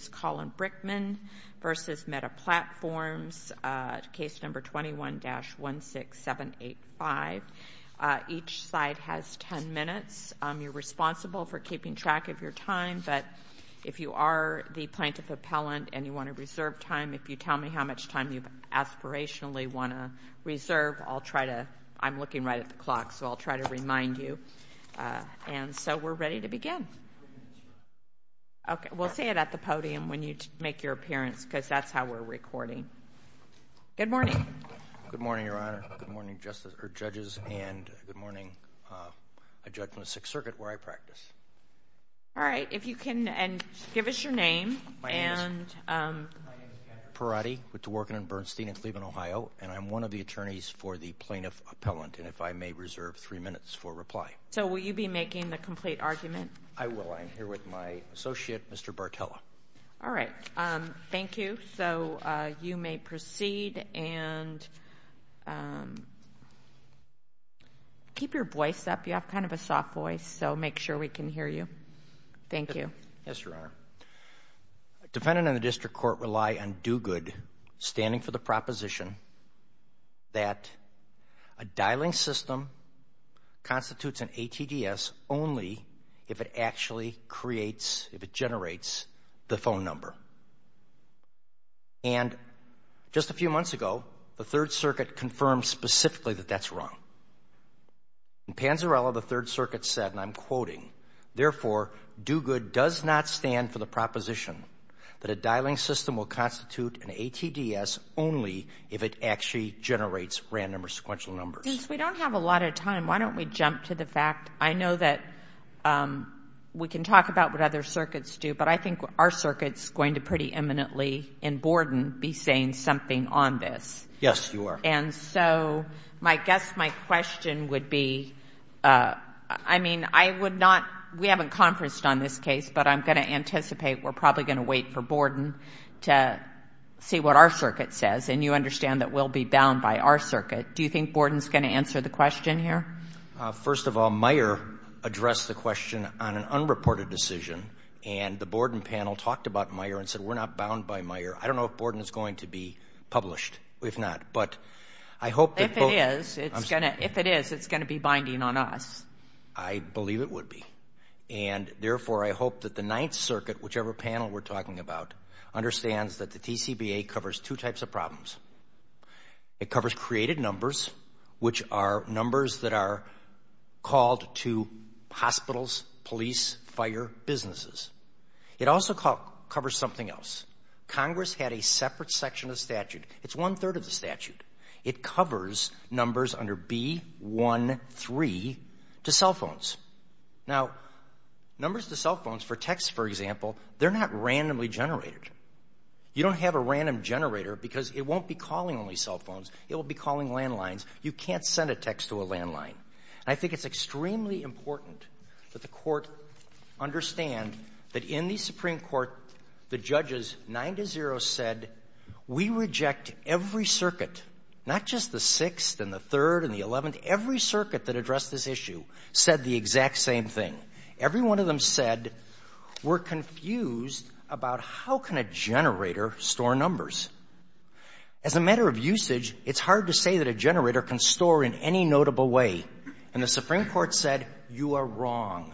Brickman v. Meta Platforms, Case No. 21-16785. Each slide has 10 minutes. You're responsible for keeping track of your time, but if you are the plaintiff-appellant and you want to reserve time, if you tell me how much time you aspirationally want to reserve, I'll try to, I'm looking right at the clock, so I'll try to remind you, and so we're ready to begin. Okay, we'll say it at the podium when you make your appearance, because that's how we're recording. Good morning. Good morning, Your Honor. Good morning, judges, and good morning, Judge from the Sixth Circuit, where I practice. All right, if you can give us your name. My name is Kenneth Perotti. I work in Bernstein in Cleveland, Ohio, and I'm one of the attorneys for the plaintiff-appellant, and if I may reserve three minutes for reply. So will you be making the complete argument? I will. I'm here with my associate, Mr. Bartella. All right. Thank you. So you may proceed, and keep your voice up. You have kind of a soft voice, so make sure we can hear you. Thank you. Yes, Your Honor. A defendant in the district court rely on do-good, standing for the proposition that a dialing system constitutes an ATDS only if it actually creates, if it generates, the phone number. And just a few months ago, the Third Circuit confirmed specifically that that's wrong. In Panzarella, the Third Circuit said, and I'm quoting, therefore, do-good does not stand for the proposition that a dialing system will constitute an ATDS only if it actually generates random or sequential numbers. We don't have a lot of time. Why don't we jump to the fact, I know that we can talk about what other circuits do, but I think our circuit's going to pretty imminently in Borden be saying something on this. And so I guess my question would be, I mean, I would not, we haven't conferenced on this case, but I'm going to anticipate we're probably going to wait for Borden to see what our circuit says. And you understand that we'll be bound by our circuit. Do you think Borden's going to answer the question here? First of all, Meyer addressed the question on an unreported decision, and the Borden panel talked about Meyer and said we're not bound by Meyer. I don't know if Borden is going to be published, if not, but I hope that... If it is, it's going to be binding on us. I believe it would be. And therefore, I hope that the Ninth Circuit, whichever panel we're talking about, understands that the TCBA covers two types of problems. It covers created numbers, which are numbers that are called to hospitals, police, fire, businesses. It also covers something else. Congress had a separate section of the statute. It's one-third of the statute. It covers numbers under B-1-3 to cell phones. Now, numbers to cell phones for texts, for example, they're not randomly generated. You don't have a random generator because it won't be calling only cell phones. It will be calling landlines. You can't send a text to a landline. And I think it's extremely important that the Court understand that in the Supreme Court, the judges, 9-0, said we reject every circuit, not just the Sixth and the Third and the Eleventh. Every circuit that addressed this issue said the exact same thing. Every one of them said we're confused about how can a generator store numbers. As a matter of usage, it's hard to say that a generator can store in any notable way. And the Supreme Court said you are wrong.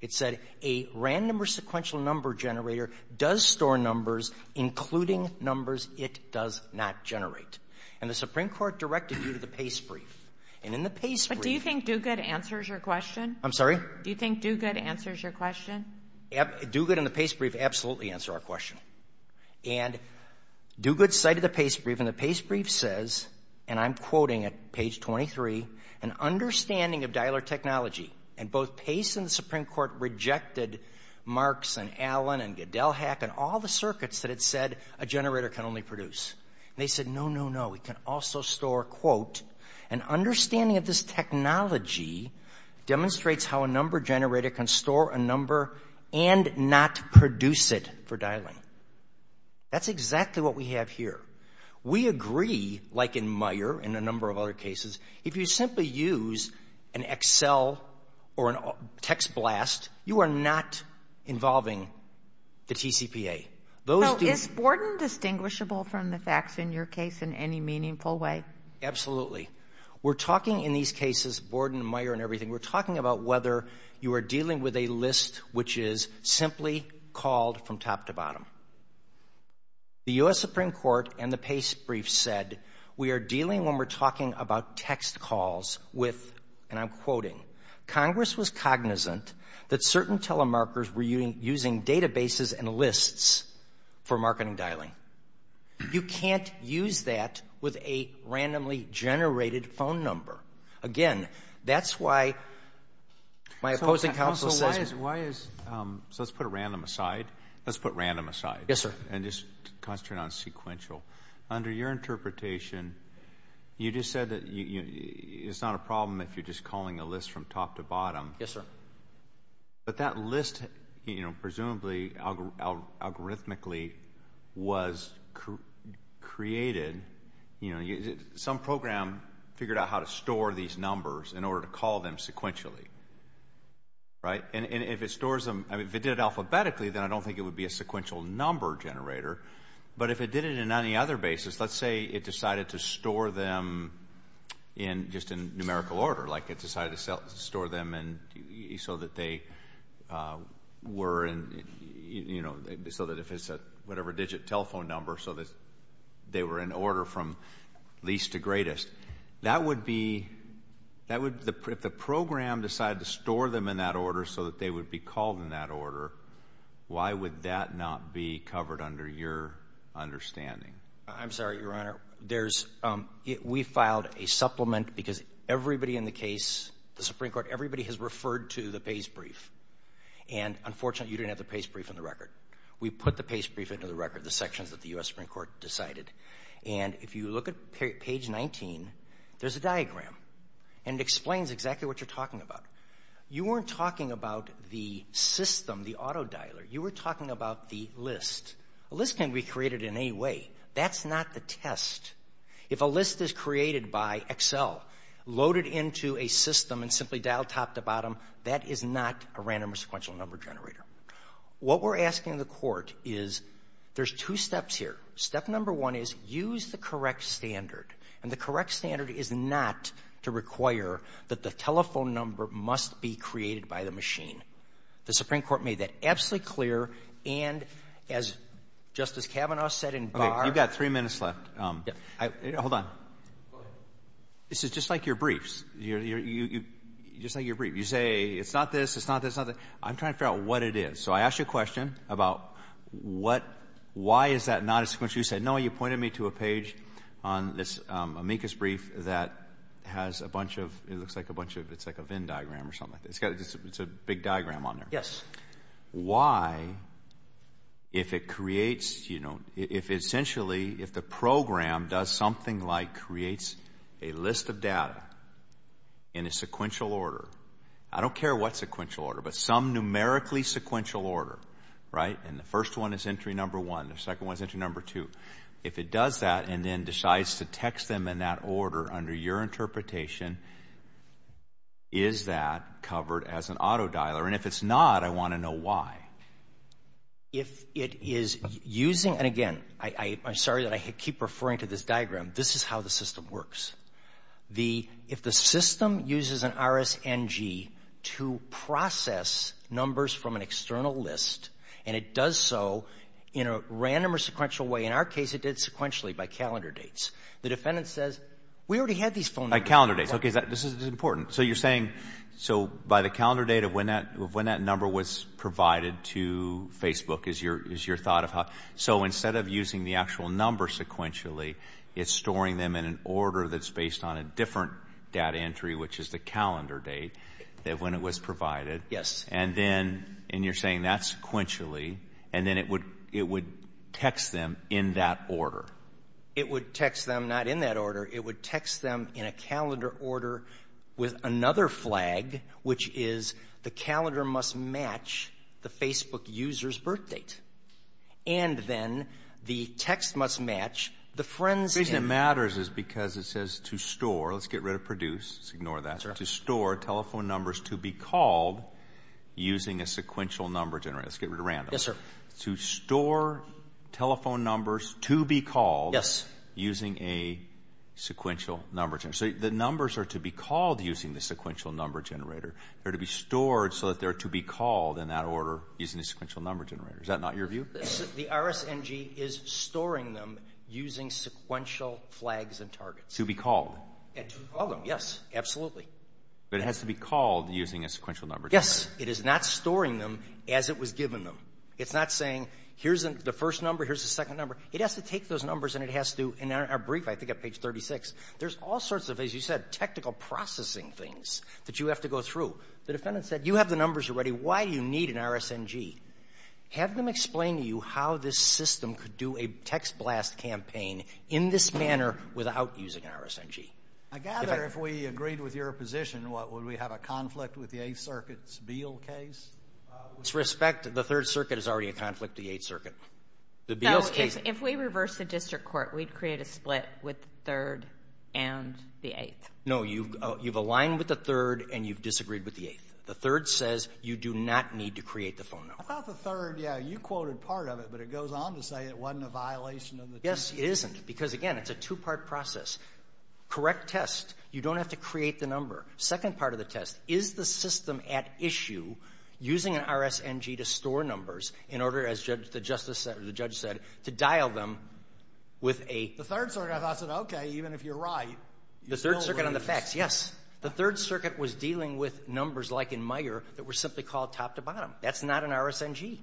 It said a random or sequential number generator does store numbers, including numbers it does not generate. And the Supreme Court directed you to the pace brief. And in the pace brief — But do you think Duguid answers your question? I'm sorry? Do you think Duguid answers your question? Duguid and the pace brief absolutely answer our question. And Duguid cited the pace brief. And the pace brief says, and I'm quoting at page 23, an understanding of dialer technology. And both pace and the Supreme Court rejected Marks and Allen and Gadelhack and all the circuits that had said a generator can only produce. And they said, no, no, no, it can also store, quote, An understanding of this technology demonstrates how a number generator can store a number and not produce it for dialing. That's exactly what we have here. We agree, like in Meijer and a number of other cases, if you simply use an Excel or a text blast, you are not involving the TCPA. Now, is Borden distinguishable from the facts in your case in any meaningful way? Absolutely. We're talking in these cases, Borden, Meijer, and everything, we're talking about whether you are dealing with a list which is simply called from top to bottom. The U.S. Supreme Court and the pace brief said we are dealing when we're talking about text calls with, and I'm quoting, Congress was cognizant that certain telemarkers were using databases and lists for marketing dialing. You can't use that with a randomly generated phone number. Again, that's why my opposing counsel says. Counsel, why is, so let's put a random aside. Let's put random aside. Yes, sir. And just concentrate on sequential. Under your interpretation, you just said that it's not a problem if you're just calling a list from top to bottom. Yes, sir. But that list, you know, presumably algorithmically was created, you know, some program figured out how to store these numbers in order to call them sequentially, right? And if it stores them, I mean, if it did it alphabetically, then I don't think it would be a sequential number generator. But if it did it in any other basis, let's say it decided to store them in, just in numerical order, like it decided to store them so that they were in, you know, so that if it's a whatever digit telephone number so that they were in order from least to greatest, that would be, if the program decided to store them in that order so that they would be called in that order, why would that not be covered under your understanding? I'm sorry, Your Honor. We filed a supplement because everybody in the case, the Supreme Court, everybody has referred to the pace brief. And unfortunately, you didn't have the pace brief in the record. We put the pace brief into the record, the sections that the U.S. Supreme Court decided. And if you look at page 19, there's a diagram, and it explains exactly what you're talking about. You weren't talking about the system, the auto dialer. You were talking about the list. A list can't be created in any way. That's not the test. If a list is created by Excel, loaded into a system, and simply dialed top to bottom, that is not a random or sequential number generator. What we're asking the court is there's two steps here. Step number one is use the correct standard. And the correct standard is not to require that the telephone number must be created by the machine. The Supreme Court made that absolutely clear. And as Justice Kavanaugh said in Barr. Okay, you've got three minutes left. Hold on. Go ahead. This is just like your briefs. Just like your brief. You say it's not this, it's not this, it's not this. I'm trying to figure out what it is. So I asked you a question about what, why is that not a sequential? You said, no, you pointed me to a page on this amicus brief that has a bunch of, it looks like a bunch of, it's like a Venn diagram or something like that. It's a big diagram on there. Yes. Why, if it creates, you know, if essentially if the program does something like creates a list of data in a sequential order, I don't care what sequential order, but some numerically sequential order, right? And the first one is entry number one. The second one is entry number two. If it does that and then decides to text them in that order under your interpretation, is that covered as an auto dialer? And if it's not, I want to know why. If it is using, and again, I'm sorry that I keep referring to this diagram. This is how the system works. If the system uses an RSNG to process numbers from an external list and it does so in a random or sequential way, in our case it did sequentially by calendar dates, the defendant says, we already had these phone numbers. By calendar dates. Okay, this is important. So you're saying, so by the calendar date of when that number was provided to Facebook is your thought of how, so instead of using the actual number sequentially, it's storing them in an order that's based on a different data entry, which is the calendar date, that when it was provided. Yes. And then, and you're saying that's sequentially, and then it would text them in that order. It would text them not in that order. It would text them in a calendar order with another flag, which is the calendar must match the Facebook user's birth date. And then the text must match the friend's name. The reason it matters is because it says to store, let's get rid of produce, let's ignore that. To store telephone numbers to be called using a sequential number generator. Yes, sir. To store telephone numbers to be called. Yes. Using a sequential number generator. So the numbers are to be called using the sequential number generator. They're to be stored so that they're to be called in that order using a sequential number generator. Is that not your view? The RSNG is storing them using sequential flags and targets. To be called. And to call them, yes, absolutely. But it has to be called using a sequential number generator. It is not storing them as it was given them. It's not saying here's the first number, here's the second number. It has to take those numbers and it has to, in our brief, I think at page 36, there's all sorts of, as you said, technical processing things that you have to go through. The defendant said you have the numbers already. Why do you need an RSNG? Have them explain to you how this system could do a text blast campaign in this manner without using an RSNG. I gather if we agreed with your position, what, would we have a conflict with the Eighth Circuit's Beal case? With respect, the Third Circuit is already a conflict with the Eighth Circuit. No, if we reverse the district court, we'd create a split with the Third and the Eighth. No, you've aligned with the Third and you've disagreed with the Eighth. The Third says you do not need to create the phone number. I thought the Third, yeah, you quoted part of it, but it goes on to say it wasn't a violation of the text. Yes, it isn't because, again, it's a two-part process. Correct test. You don't have to create the number. Second part of the test, is the system at issue using an RSNG to store numbers in order, as the judge said, to dial them with a – The Third Circuit, I thought, said, okay, even if you're right – The Third Circuit on the facts, yes. The Third Circuit was dealing with numbers like in Meyer that were simply called top to bottom. That's not an RSNG.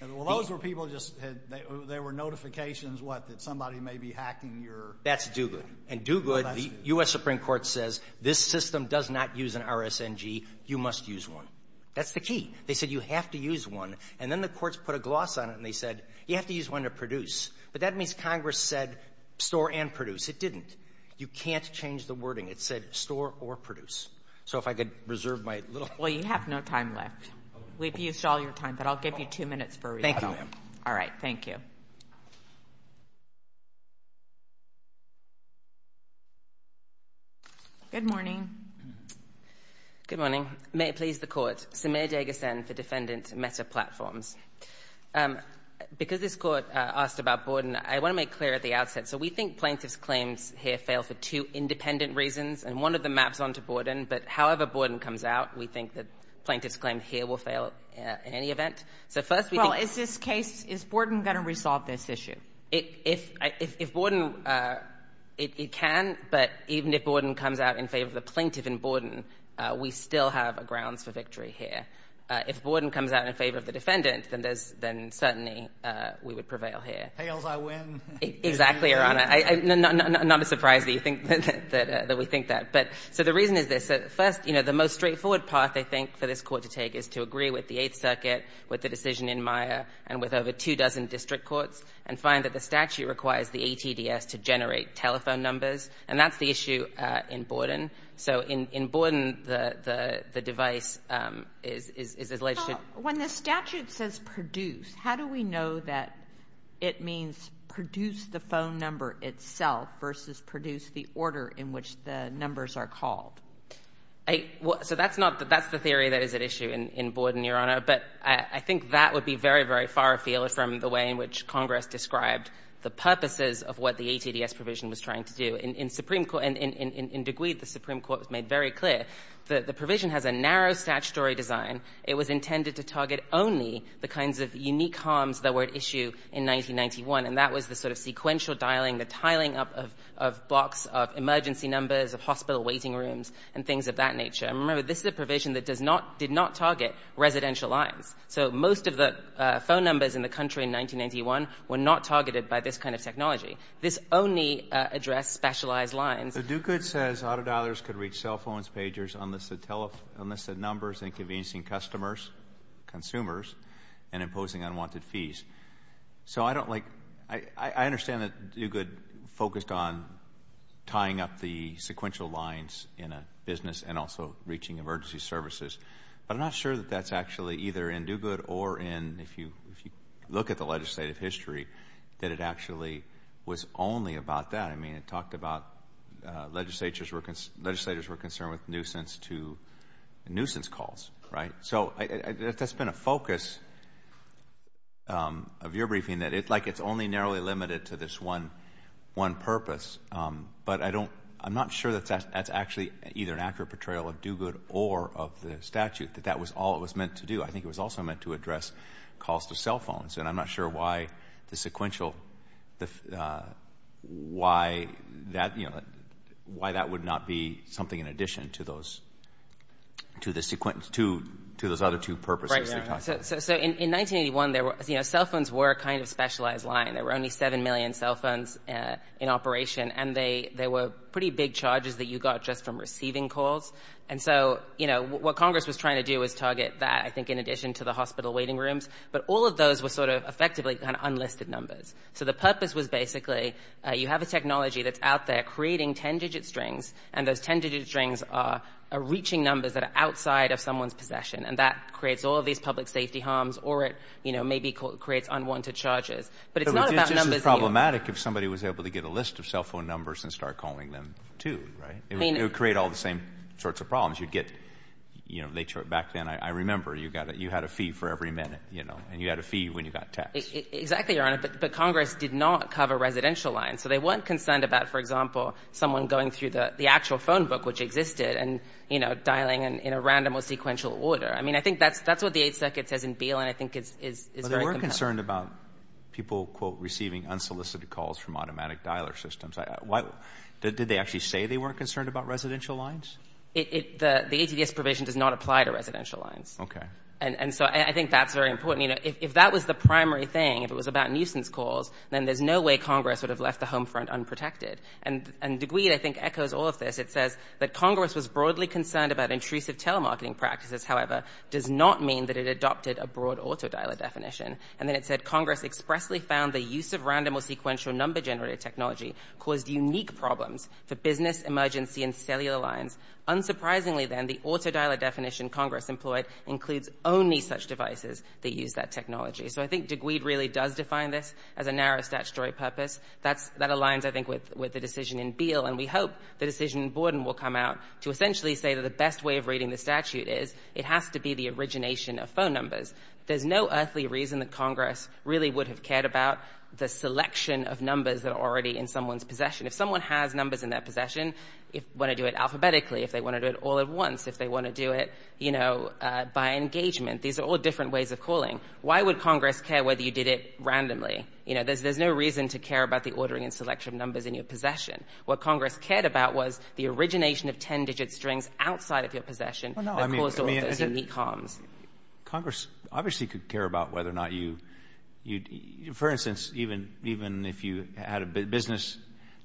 Well, those were people just – they were notifications, what, that somebody may be hacking your – That's Duguid. And Duguid, the U.S. Supreme Court says this system does not use an RSNG. You must use one. That's the key. They said you have to use one. And then the courts put a gloss on it and they said you have to use one to produce. But that means Congress said store and produce. It didn't. You can't change the wording. It said store or produce. So if I could reserve my little – Well, you have no time left. We've used all your time, but I'll give you two minutes for – Thank you, ma'am. All right. Thank you. Good morning. Good morning. May it please the Court. Samir Deghasan for Defendant Meta Platforms. Because this Court asked about Borden, I want to make clear at the outset. So we think plaintiff's claims here fail for two independent reasons, and one of them maps onto Borden. But however Borden comes out, we think that plaintiff's claim here will fail in any event. So first we think – Well, is this case – is Borden going to resolve this issue? If Borden – it can. But even if Borden comes out in favor of the plaintiff in Borden, we still have grounds for victory here. If Borden comes out in favor of the defendant, then there's – then certainly we would prevail here. Hails I win. Exactly, Your Honor. Not a surprise that you think – that we think that. But – so the reason is this. First, you know, the most straightforward path I think for this Court to take is to agree with the Eighth Circuit, with the decision in Meyer, and with over two dozen district courts. And find that the statute requires the ATDS to generate telephone numbers. And that's the issue in Borden. So in Borden, the device is alleged to – When the statute says produce, how do we know that it means produce the phone number itself versus produce the order in which the numbers are called? So that's not – that's the theory that is at issue in Borden, Your Honor. But I think that would be very, very far afield from the way in which Congress described the purposes of what the ATDS provision was trying to do. In Supreme Court – in De Guide, the Supreme Court made very clear that the provision has a narrow statutory design. It was intended to target only the kinds of unique harms that were at issue in 1991. And that was the sort of sequential dialing, the tiling up of blocks of emergency numbers, of hospital waiting rooms, and things of that nature. And remember, this is a provision that does not – did not target residential lines. So most of the phone numbers in the country in 1991 were not targeted by this kind of technology. This only addressed specialized lines. So De Guide says auto dialers could reach cell phones, pagers, unlisted numbers, inconveniencing customers, consumers, and imposing unwanted fees. So I don't like – I understand that De Guide focused on tying up the sequential lines in a business and also reaching emergency services. But I'm not sure that that's actually either in De Guide or in – if you look at the legislative history, that it actually was only about that. I mean, it talked about legislators were concerned with nuisance calls, right? So that's been a focus of your briefing, that it's like it's only narrowly limited to this one purpose. But I don't – I'm not sure that that's actually either an accurate portrayal of De Guide or of the statute, that that was all it was meant to do. I think it was also meant to address calls to cell phones. And I'm not sure why the sequential – why that would not be something in addition to those other two purposes. So in 1981, cell phones were a kind of specialized line. There were only 7 million cell phones in operation, and they were pretty big charges that you got just from receiving calls. And so, you know, what Congress was trying to do was target that, I think, in addition to the hospital waiting rooms. But all of those were sort of effectively kind of unlisted numbers. So the purpose was basically you have a technology that's out there creating 10-digit strings, and those 10-digit strings are reaching numbers that are outside of someone's possession, and that creates all of these public safety harms or it, you know, maybe creates unwanted charges. But it's not about numbers. It would be problematic if somebody was able to get a list of cell phone numbers and start calling them, too, right? It would create all the same sorts of problems. You'd get, you know, back then, I remember, you had a fee for every minute, you know, and you had a fee when you got taxed. Exactly, Your Honor. But Congress did not cover residential lines. So they weren't concerned about, for example, someone going through the actual phone book, which existed, and, you know, dialing in a random or sequential order. I mean, I think that's what the Eighth Circuit says in Beal, and I think it's very compelling. They weren't concerned about people, quote, receiving unsolicited calls from automatic dialer systems. Did they actually say they weren't concerned about residential lines? The ATDS provision does not apply to residential lines. Okay. And so I think that's very important. You know, if that was the primary thing, if it was about nuisance calls, then there's no way Congress would have left the home front unprotected. And DeGuid, I think, echoes all of this. It says that Congress was broadly concerned about intrusive telemarketing practices, however, does not mean that it adopted a broad auto dialer definition. And then it said, Congress expressly found the use of random or sequential number generator technology caused unique problems for business, emergency, and cellular lines. Unsurprisingly, then, the auto dialer definition Congress employed includes only such devices that use that technology. So I think DeGuid really does define this as a narrow statutory purpose. That aligns, I think, with the decision in Beal, and we hope the decision in Borden will come out to essentially say that the best way of reading the statute is it has to be the origination of phone numbers. There's no earthly reason that Congress really would have cared about the selection of numbers that are already in someone's possession. If someone has numbers in their possession, if they want to do it alphabetically, if they want to do it all at once, if they want to do it, you know, by engagement, these are all different ways of calling. Why would Congress care whether you did it randomly? You know, there's no reason to care about the ordering and selection of numbers in your possession. What Congress cared about was the origination of ten-digit strings outside of your possession that caused all of those unique harms. Congress obviously could care about whether or not you'd, for instance, even if you had a business.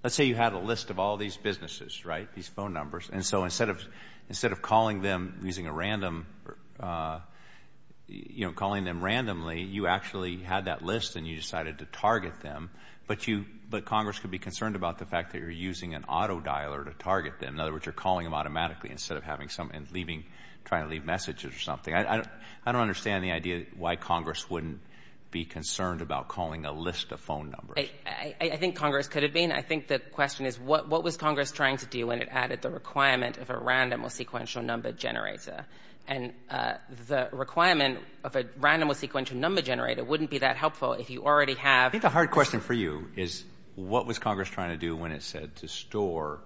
Let's say you had a list of all these businesses, right, these phone numbers, and so instead of calling them using a random, you know, calling them randomly, you actually had that list and you decided to target them, but you, but Congress could be concerned about the fact that you're using an auto dialer to target them. In other words, you're calling them automatically instead of having someone leaving, trying to leave messages or something. I don't understand the idea why Congress wouldn't be concerned about calling a list of phone numbers. I think Congress could have been. I think the question is what was Congress trying to do when it added the requirement of a random or sequential number generator? And the requirement of a random or sequential number generator wouldn't be that helpful if you already have. I think the hard question for you is what was Congress trying to do when it said to store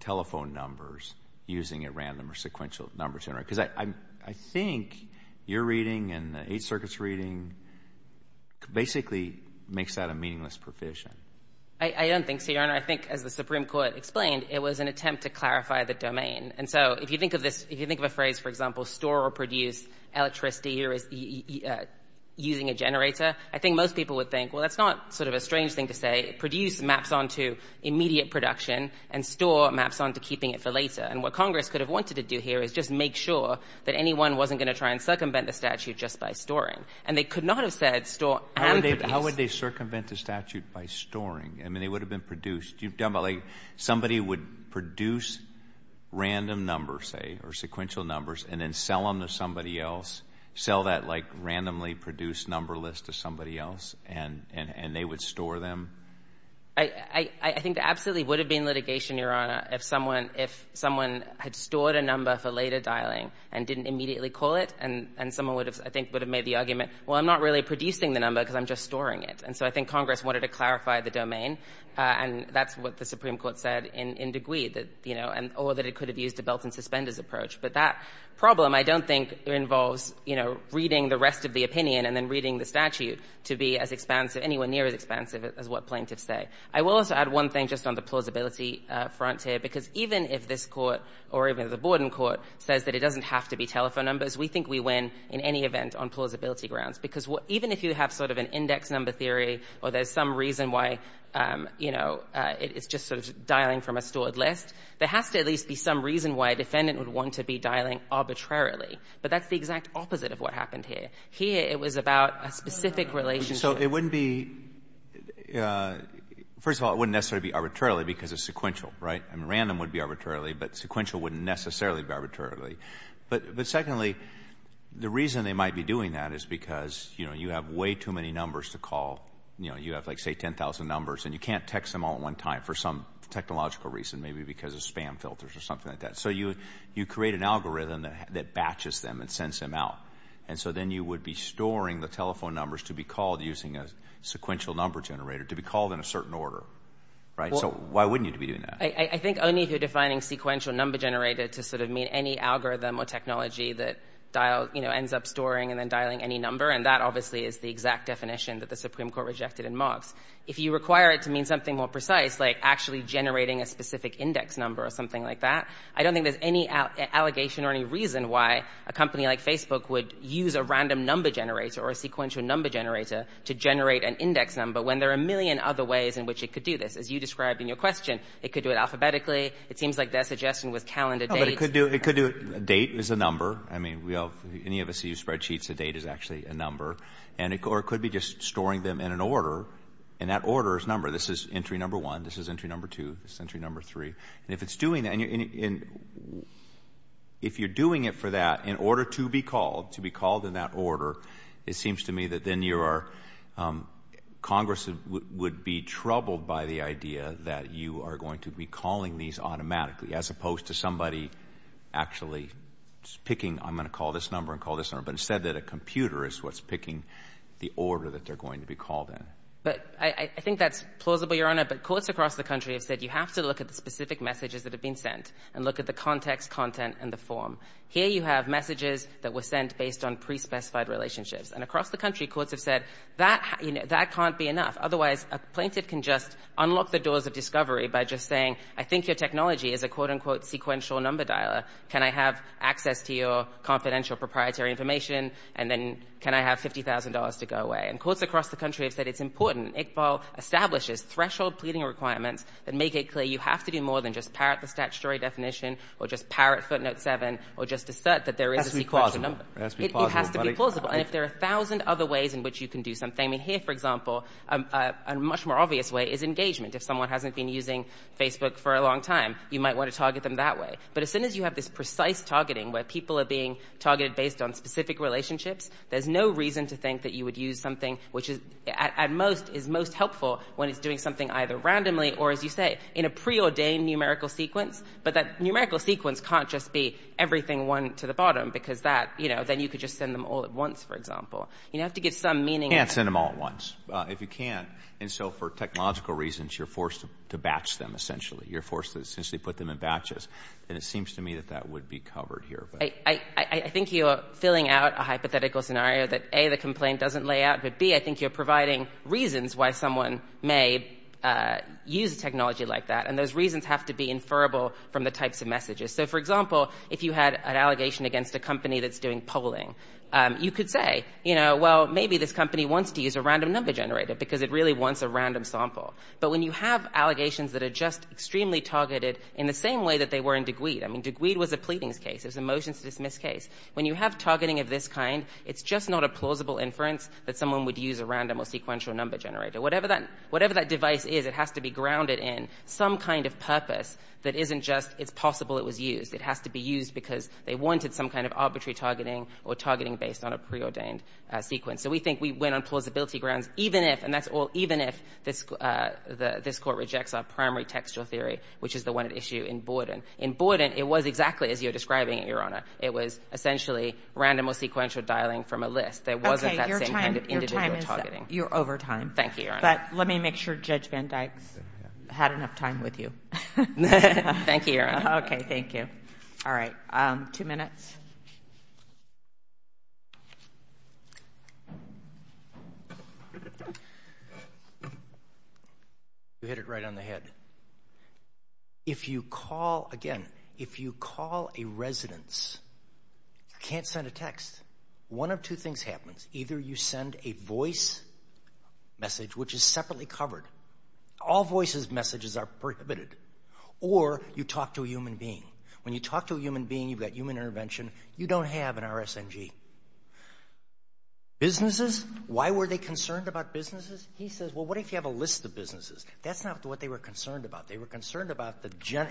telephone numbers using a random or sequential number generator? Because I think your reading and the Eighth Circuit's reading basically makes that a meaningless provision. I don't think so, Your Honor. I think as the Supreme Court explained, it was an attempt to clarify the domain. And so if you think of this, if you think of a phrase, for example, store or produce electricity using a generator, I think most people would think, well, that's not sort of a strange thing to say. Produce maps on to immediate production and store maps on to keeping it for later. And what Congress could have wanted to do here is just make sure that anyone wasn't going to try and circumvent the statute just by storing. And they could not have said store and produce. How would they circumvent the statute by storing? I mean, they would have been produced. You've done it like somebody would produce random numbers, say, or sequential numbers, and then sell them to somebody else, sell that, like, randomly produced number list to somebody else, and they would store them. I think there absolutely would have been litigation, Your Honor, if someone had stored a number for later dialing and didn't immediately call it, and someone would have, I think, would have made the argument, well, I'm not really producing the number because I'm just storing it. And so I think Congress wanted to clarify the domain, and that's what the Supreme Court said in De Gui, you know, or that it could have used a belt-and-suspenders approach. But that problem, I don't think, involves, you know, reading the rest of the opinion and then reading the statute to be as expansive, anywhere near as expansive as what plaintiffs say. I will also add one thing just on the plausibility front here, because even if this court or even the Borden court says that it doesn't have to be telephone numbers, we think we win in any event on plausibility grounds, because even if you have sort of an index number theory or there's some reason why, you know, it's just sort of dialing from a stored list, there has to at least be some reason why a defendant would want to be dialing arbitrarily. But that's the exact opposite of what happened here. Here, it was about a specific relationship. So it wouldn't be – first of all, it wouldn't necessarily be arbitrarily because it's sequential, right? I mean, random would be arbitrarily, but sequential wouldn't necessarily be arbitrarily. But secondly, the reason they might be doing that is because, you know, you have way too many numbers to call. You know, you have like, say, 10,000 numbers, and you can't text them all at one time for some technological reason, maybe because of spam filters or something like that. So you create an algorithm that batches them and sends them out. And so then you would be storing the telephone numbers to be called using a sequential number generator to be called in a certain order, right? So why wouldn't you be doing that? I think only if you're defining sequential number generator to sort of mean any algorithm or technology that, you know, ends up storing and then dialing any number, and that obviously is the exact definition that the Supreme Court rejected in Moffs. If you require it to mean something more precise, like actually generating a specific index number or something like that, I don't think there's any allegation or any reason why a company like Facebook would use a random number generator or a sequential number generator to generate an index number when there are a million other ways in which it could do this. As you described in your question, it could do it alphabetically. It seems like their suggestion was calendar dates. No, but it could do it. A date is a number. I mean, any of us who use spreadsheets, a date is actually a number. And it could be just storing them in an order, and that order is number. This is entry number 1. This is entry number 2. This is entry number 3. And if it's doing that, and if you're doing it for that, in order to be called, to be called in that order, it seems to me that then you are, Congress would be troubled by the idea that you are going to be calling these automatically as opposed to somebody actually picking, I'm going to call this number and call this number, but instead that a computer is what's picking the order that they're going to be called in. But I think that's plausible, Your Honor, but courts across the country have said you have to look at the specific messages that have been sent and look at the context, content, and the form. Here you have messages that were sent based on pre-specified relationships. And across the country, courts have said that can't be enough. Otherwise, a plaintiff can just unlock the doors of discovery by just saying, I think your technology is a quote, unquote, sequential number dialer. Can I have access to your confidential proprietary information? And then can I have $50,000 to go away? And courts across the country have said it's important. Iqbal establishes threshold pleading requirements that make it clear you have to do more than just parrot the statutory definition or just parrot footnote 7 or just assert that there is a sequential number. It has to be plausible. It has to be plausible. And if there are a thousand other ways in which you can do something, and here, for example, a much more obvious way is engagement. If someone hasn't been using Facebook for a long time, you might want to target them that way. But as soon as you have this precise targeting where people are being targeted based on specific relationships, there's no reason to think that you would use something which, at most, is most helpful when it's doing something either randomly or, as you say, in a preordained numerical sequence. But that numerical sequence can't just be everything one to the bottom because that, you know, then you could just send them all at once, for example. You have to give some meaning. You can't send them all at once. If you can't, and so for technological reasons, you're forced to batch them, essentially. You're forced to essentially put them in batches. And it seems to me that that would be covered here. I think you're filling out a hypothetical scenario that, A, the complaint doesn't lay out, but, B, I think you're providing reasons why someone may use a technology like that, and those reasons have to be inferable from the types of messages. So, for example, if you had an allegation against a company that's doing polling, you could say, you know, well, maybe this company wants to use a random number generator because it really wants a random sample. But when you have allegations that are just extremely targeted in the same way that they were in DeGweed, I mean, DeGweed was a pleadings case. It was a motion-to-dismiss case. When you have targeting of this kind, it's just not a plausible inference that someone would use a random or sequential number generator. Whatever that device is, it has to be grounded in some kind of purpose that isn't just it's possible it was used. It has to be used because they wanted some kind of arbitrary targeting or targeting based on a preordained sequence. So we think we went on plausibility grounds even if, and that's all, even if this Court rejects our primary textual theory, which is the one at issue in Borden. In Borden, it was exactly as you're describing it, Your Honor. It was essentially random or sequential dialing from a list. There wasn't that same kind of individual targeting. Okay, your time is up. You're over time. Thank you, Your Honor. But let me make sure Judge Van Dyke's had enough time with you. Thank you, Your Honor. Okay, thank you. All right. Two minutes. Two minutes. You hit it right on the head. If you call, again, if you call a residence, you can't send a text. One of two things happens. Either you send a voice message, which is separately covered. All voices' messages are prohibited. Or you talk to a human being. When you talk to a human being, you've got human intervention. You don't have an RSNG. Businesses, why were they concerned about businesses? He says, well, what if you have a list of businesses? That's not what they were concerned about. They were concerned about,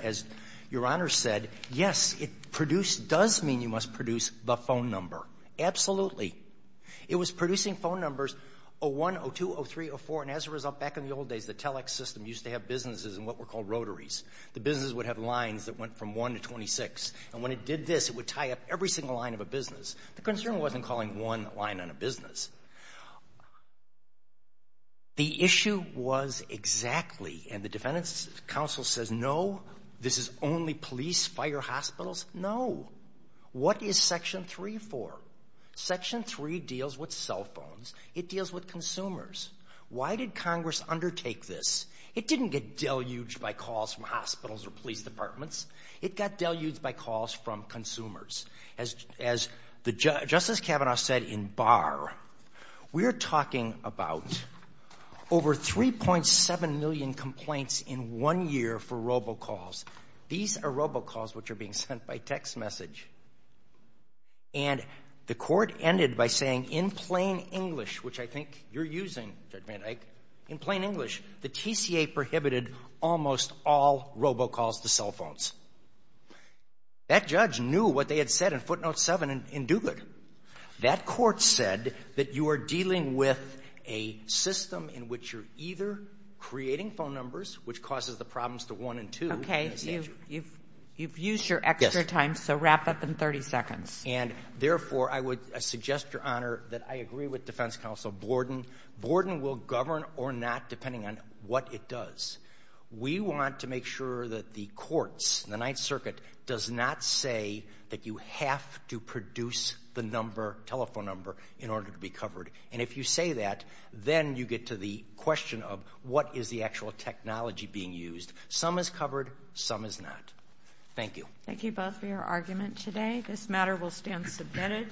as Your Honor said, yes, it produced, does mean you must produce the phone number. Absolutely. It was producing phone numbers, 0-1, 0-2, 0-3, 0-4, and as a result, back in the old days, the telex system used to have businesses in what were called rotaries. The businesses would have lines that went from 1 to 26. And when it did this, it would tie up every single line of a business. The concern wasn't calling one line on a business. The issue was exactly, and the Defendant's Counsel says, no, this is only police, fire, hospitals. No. What is Section 3 for? Section 3 deals with cell phones. It deals with consumers. Why did Congress undertake this? It didn't get deluged by calls from hospitals or police departments. It got deluged by calls from consumers. As Justice Kavanaugh said in Barr, we're talking about over 3.7 million complaints in one year for robocalls. These are robocalls which are being sent by text message. And the Court ended by saying, in plain English, which I think you're using, in plain English, the TCA prohibited almost all robocalls to cell phones. That judge knew what they had said in footnote 7 in Duguid. That court said that you are dealing with a system in which you're either creating phone numbers, which causes the problems to 1 and 2. Okay. You've used your extra time, so wrap up in 30 seconds. And therefore, I would suggest, Your Honor, that I agree with Defense Counsel Gordon. Gordon will govern or not, depending on what it does. We want to make sure that the courts, the Ninth Circuit, does not say that you have to produce the number, telephone number, in order to be covered. And if you say that, then you get to the question of what is the actual technology being used. Some is covered. Some is not. Thank you. Thank you both for your argument today. This matter will stand submitted.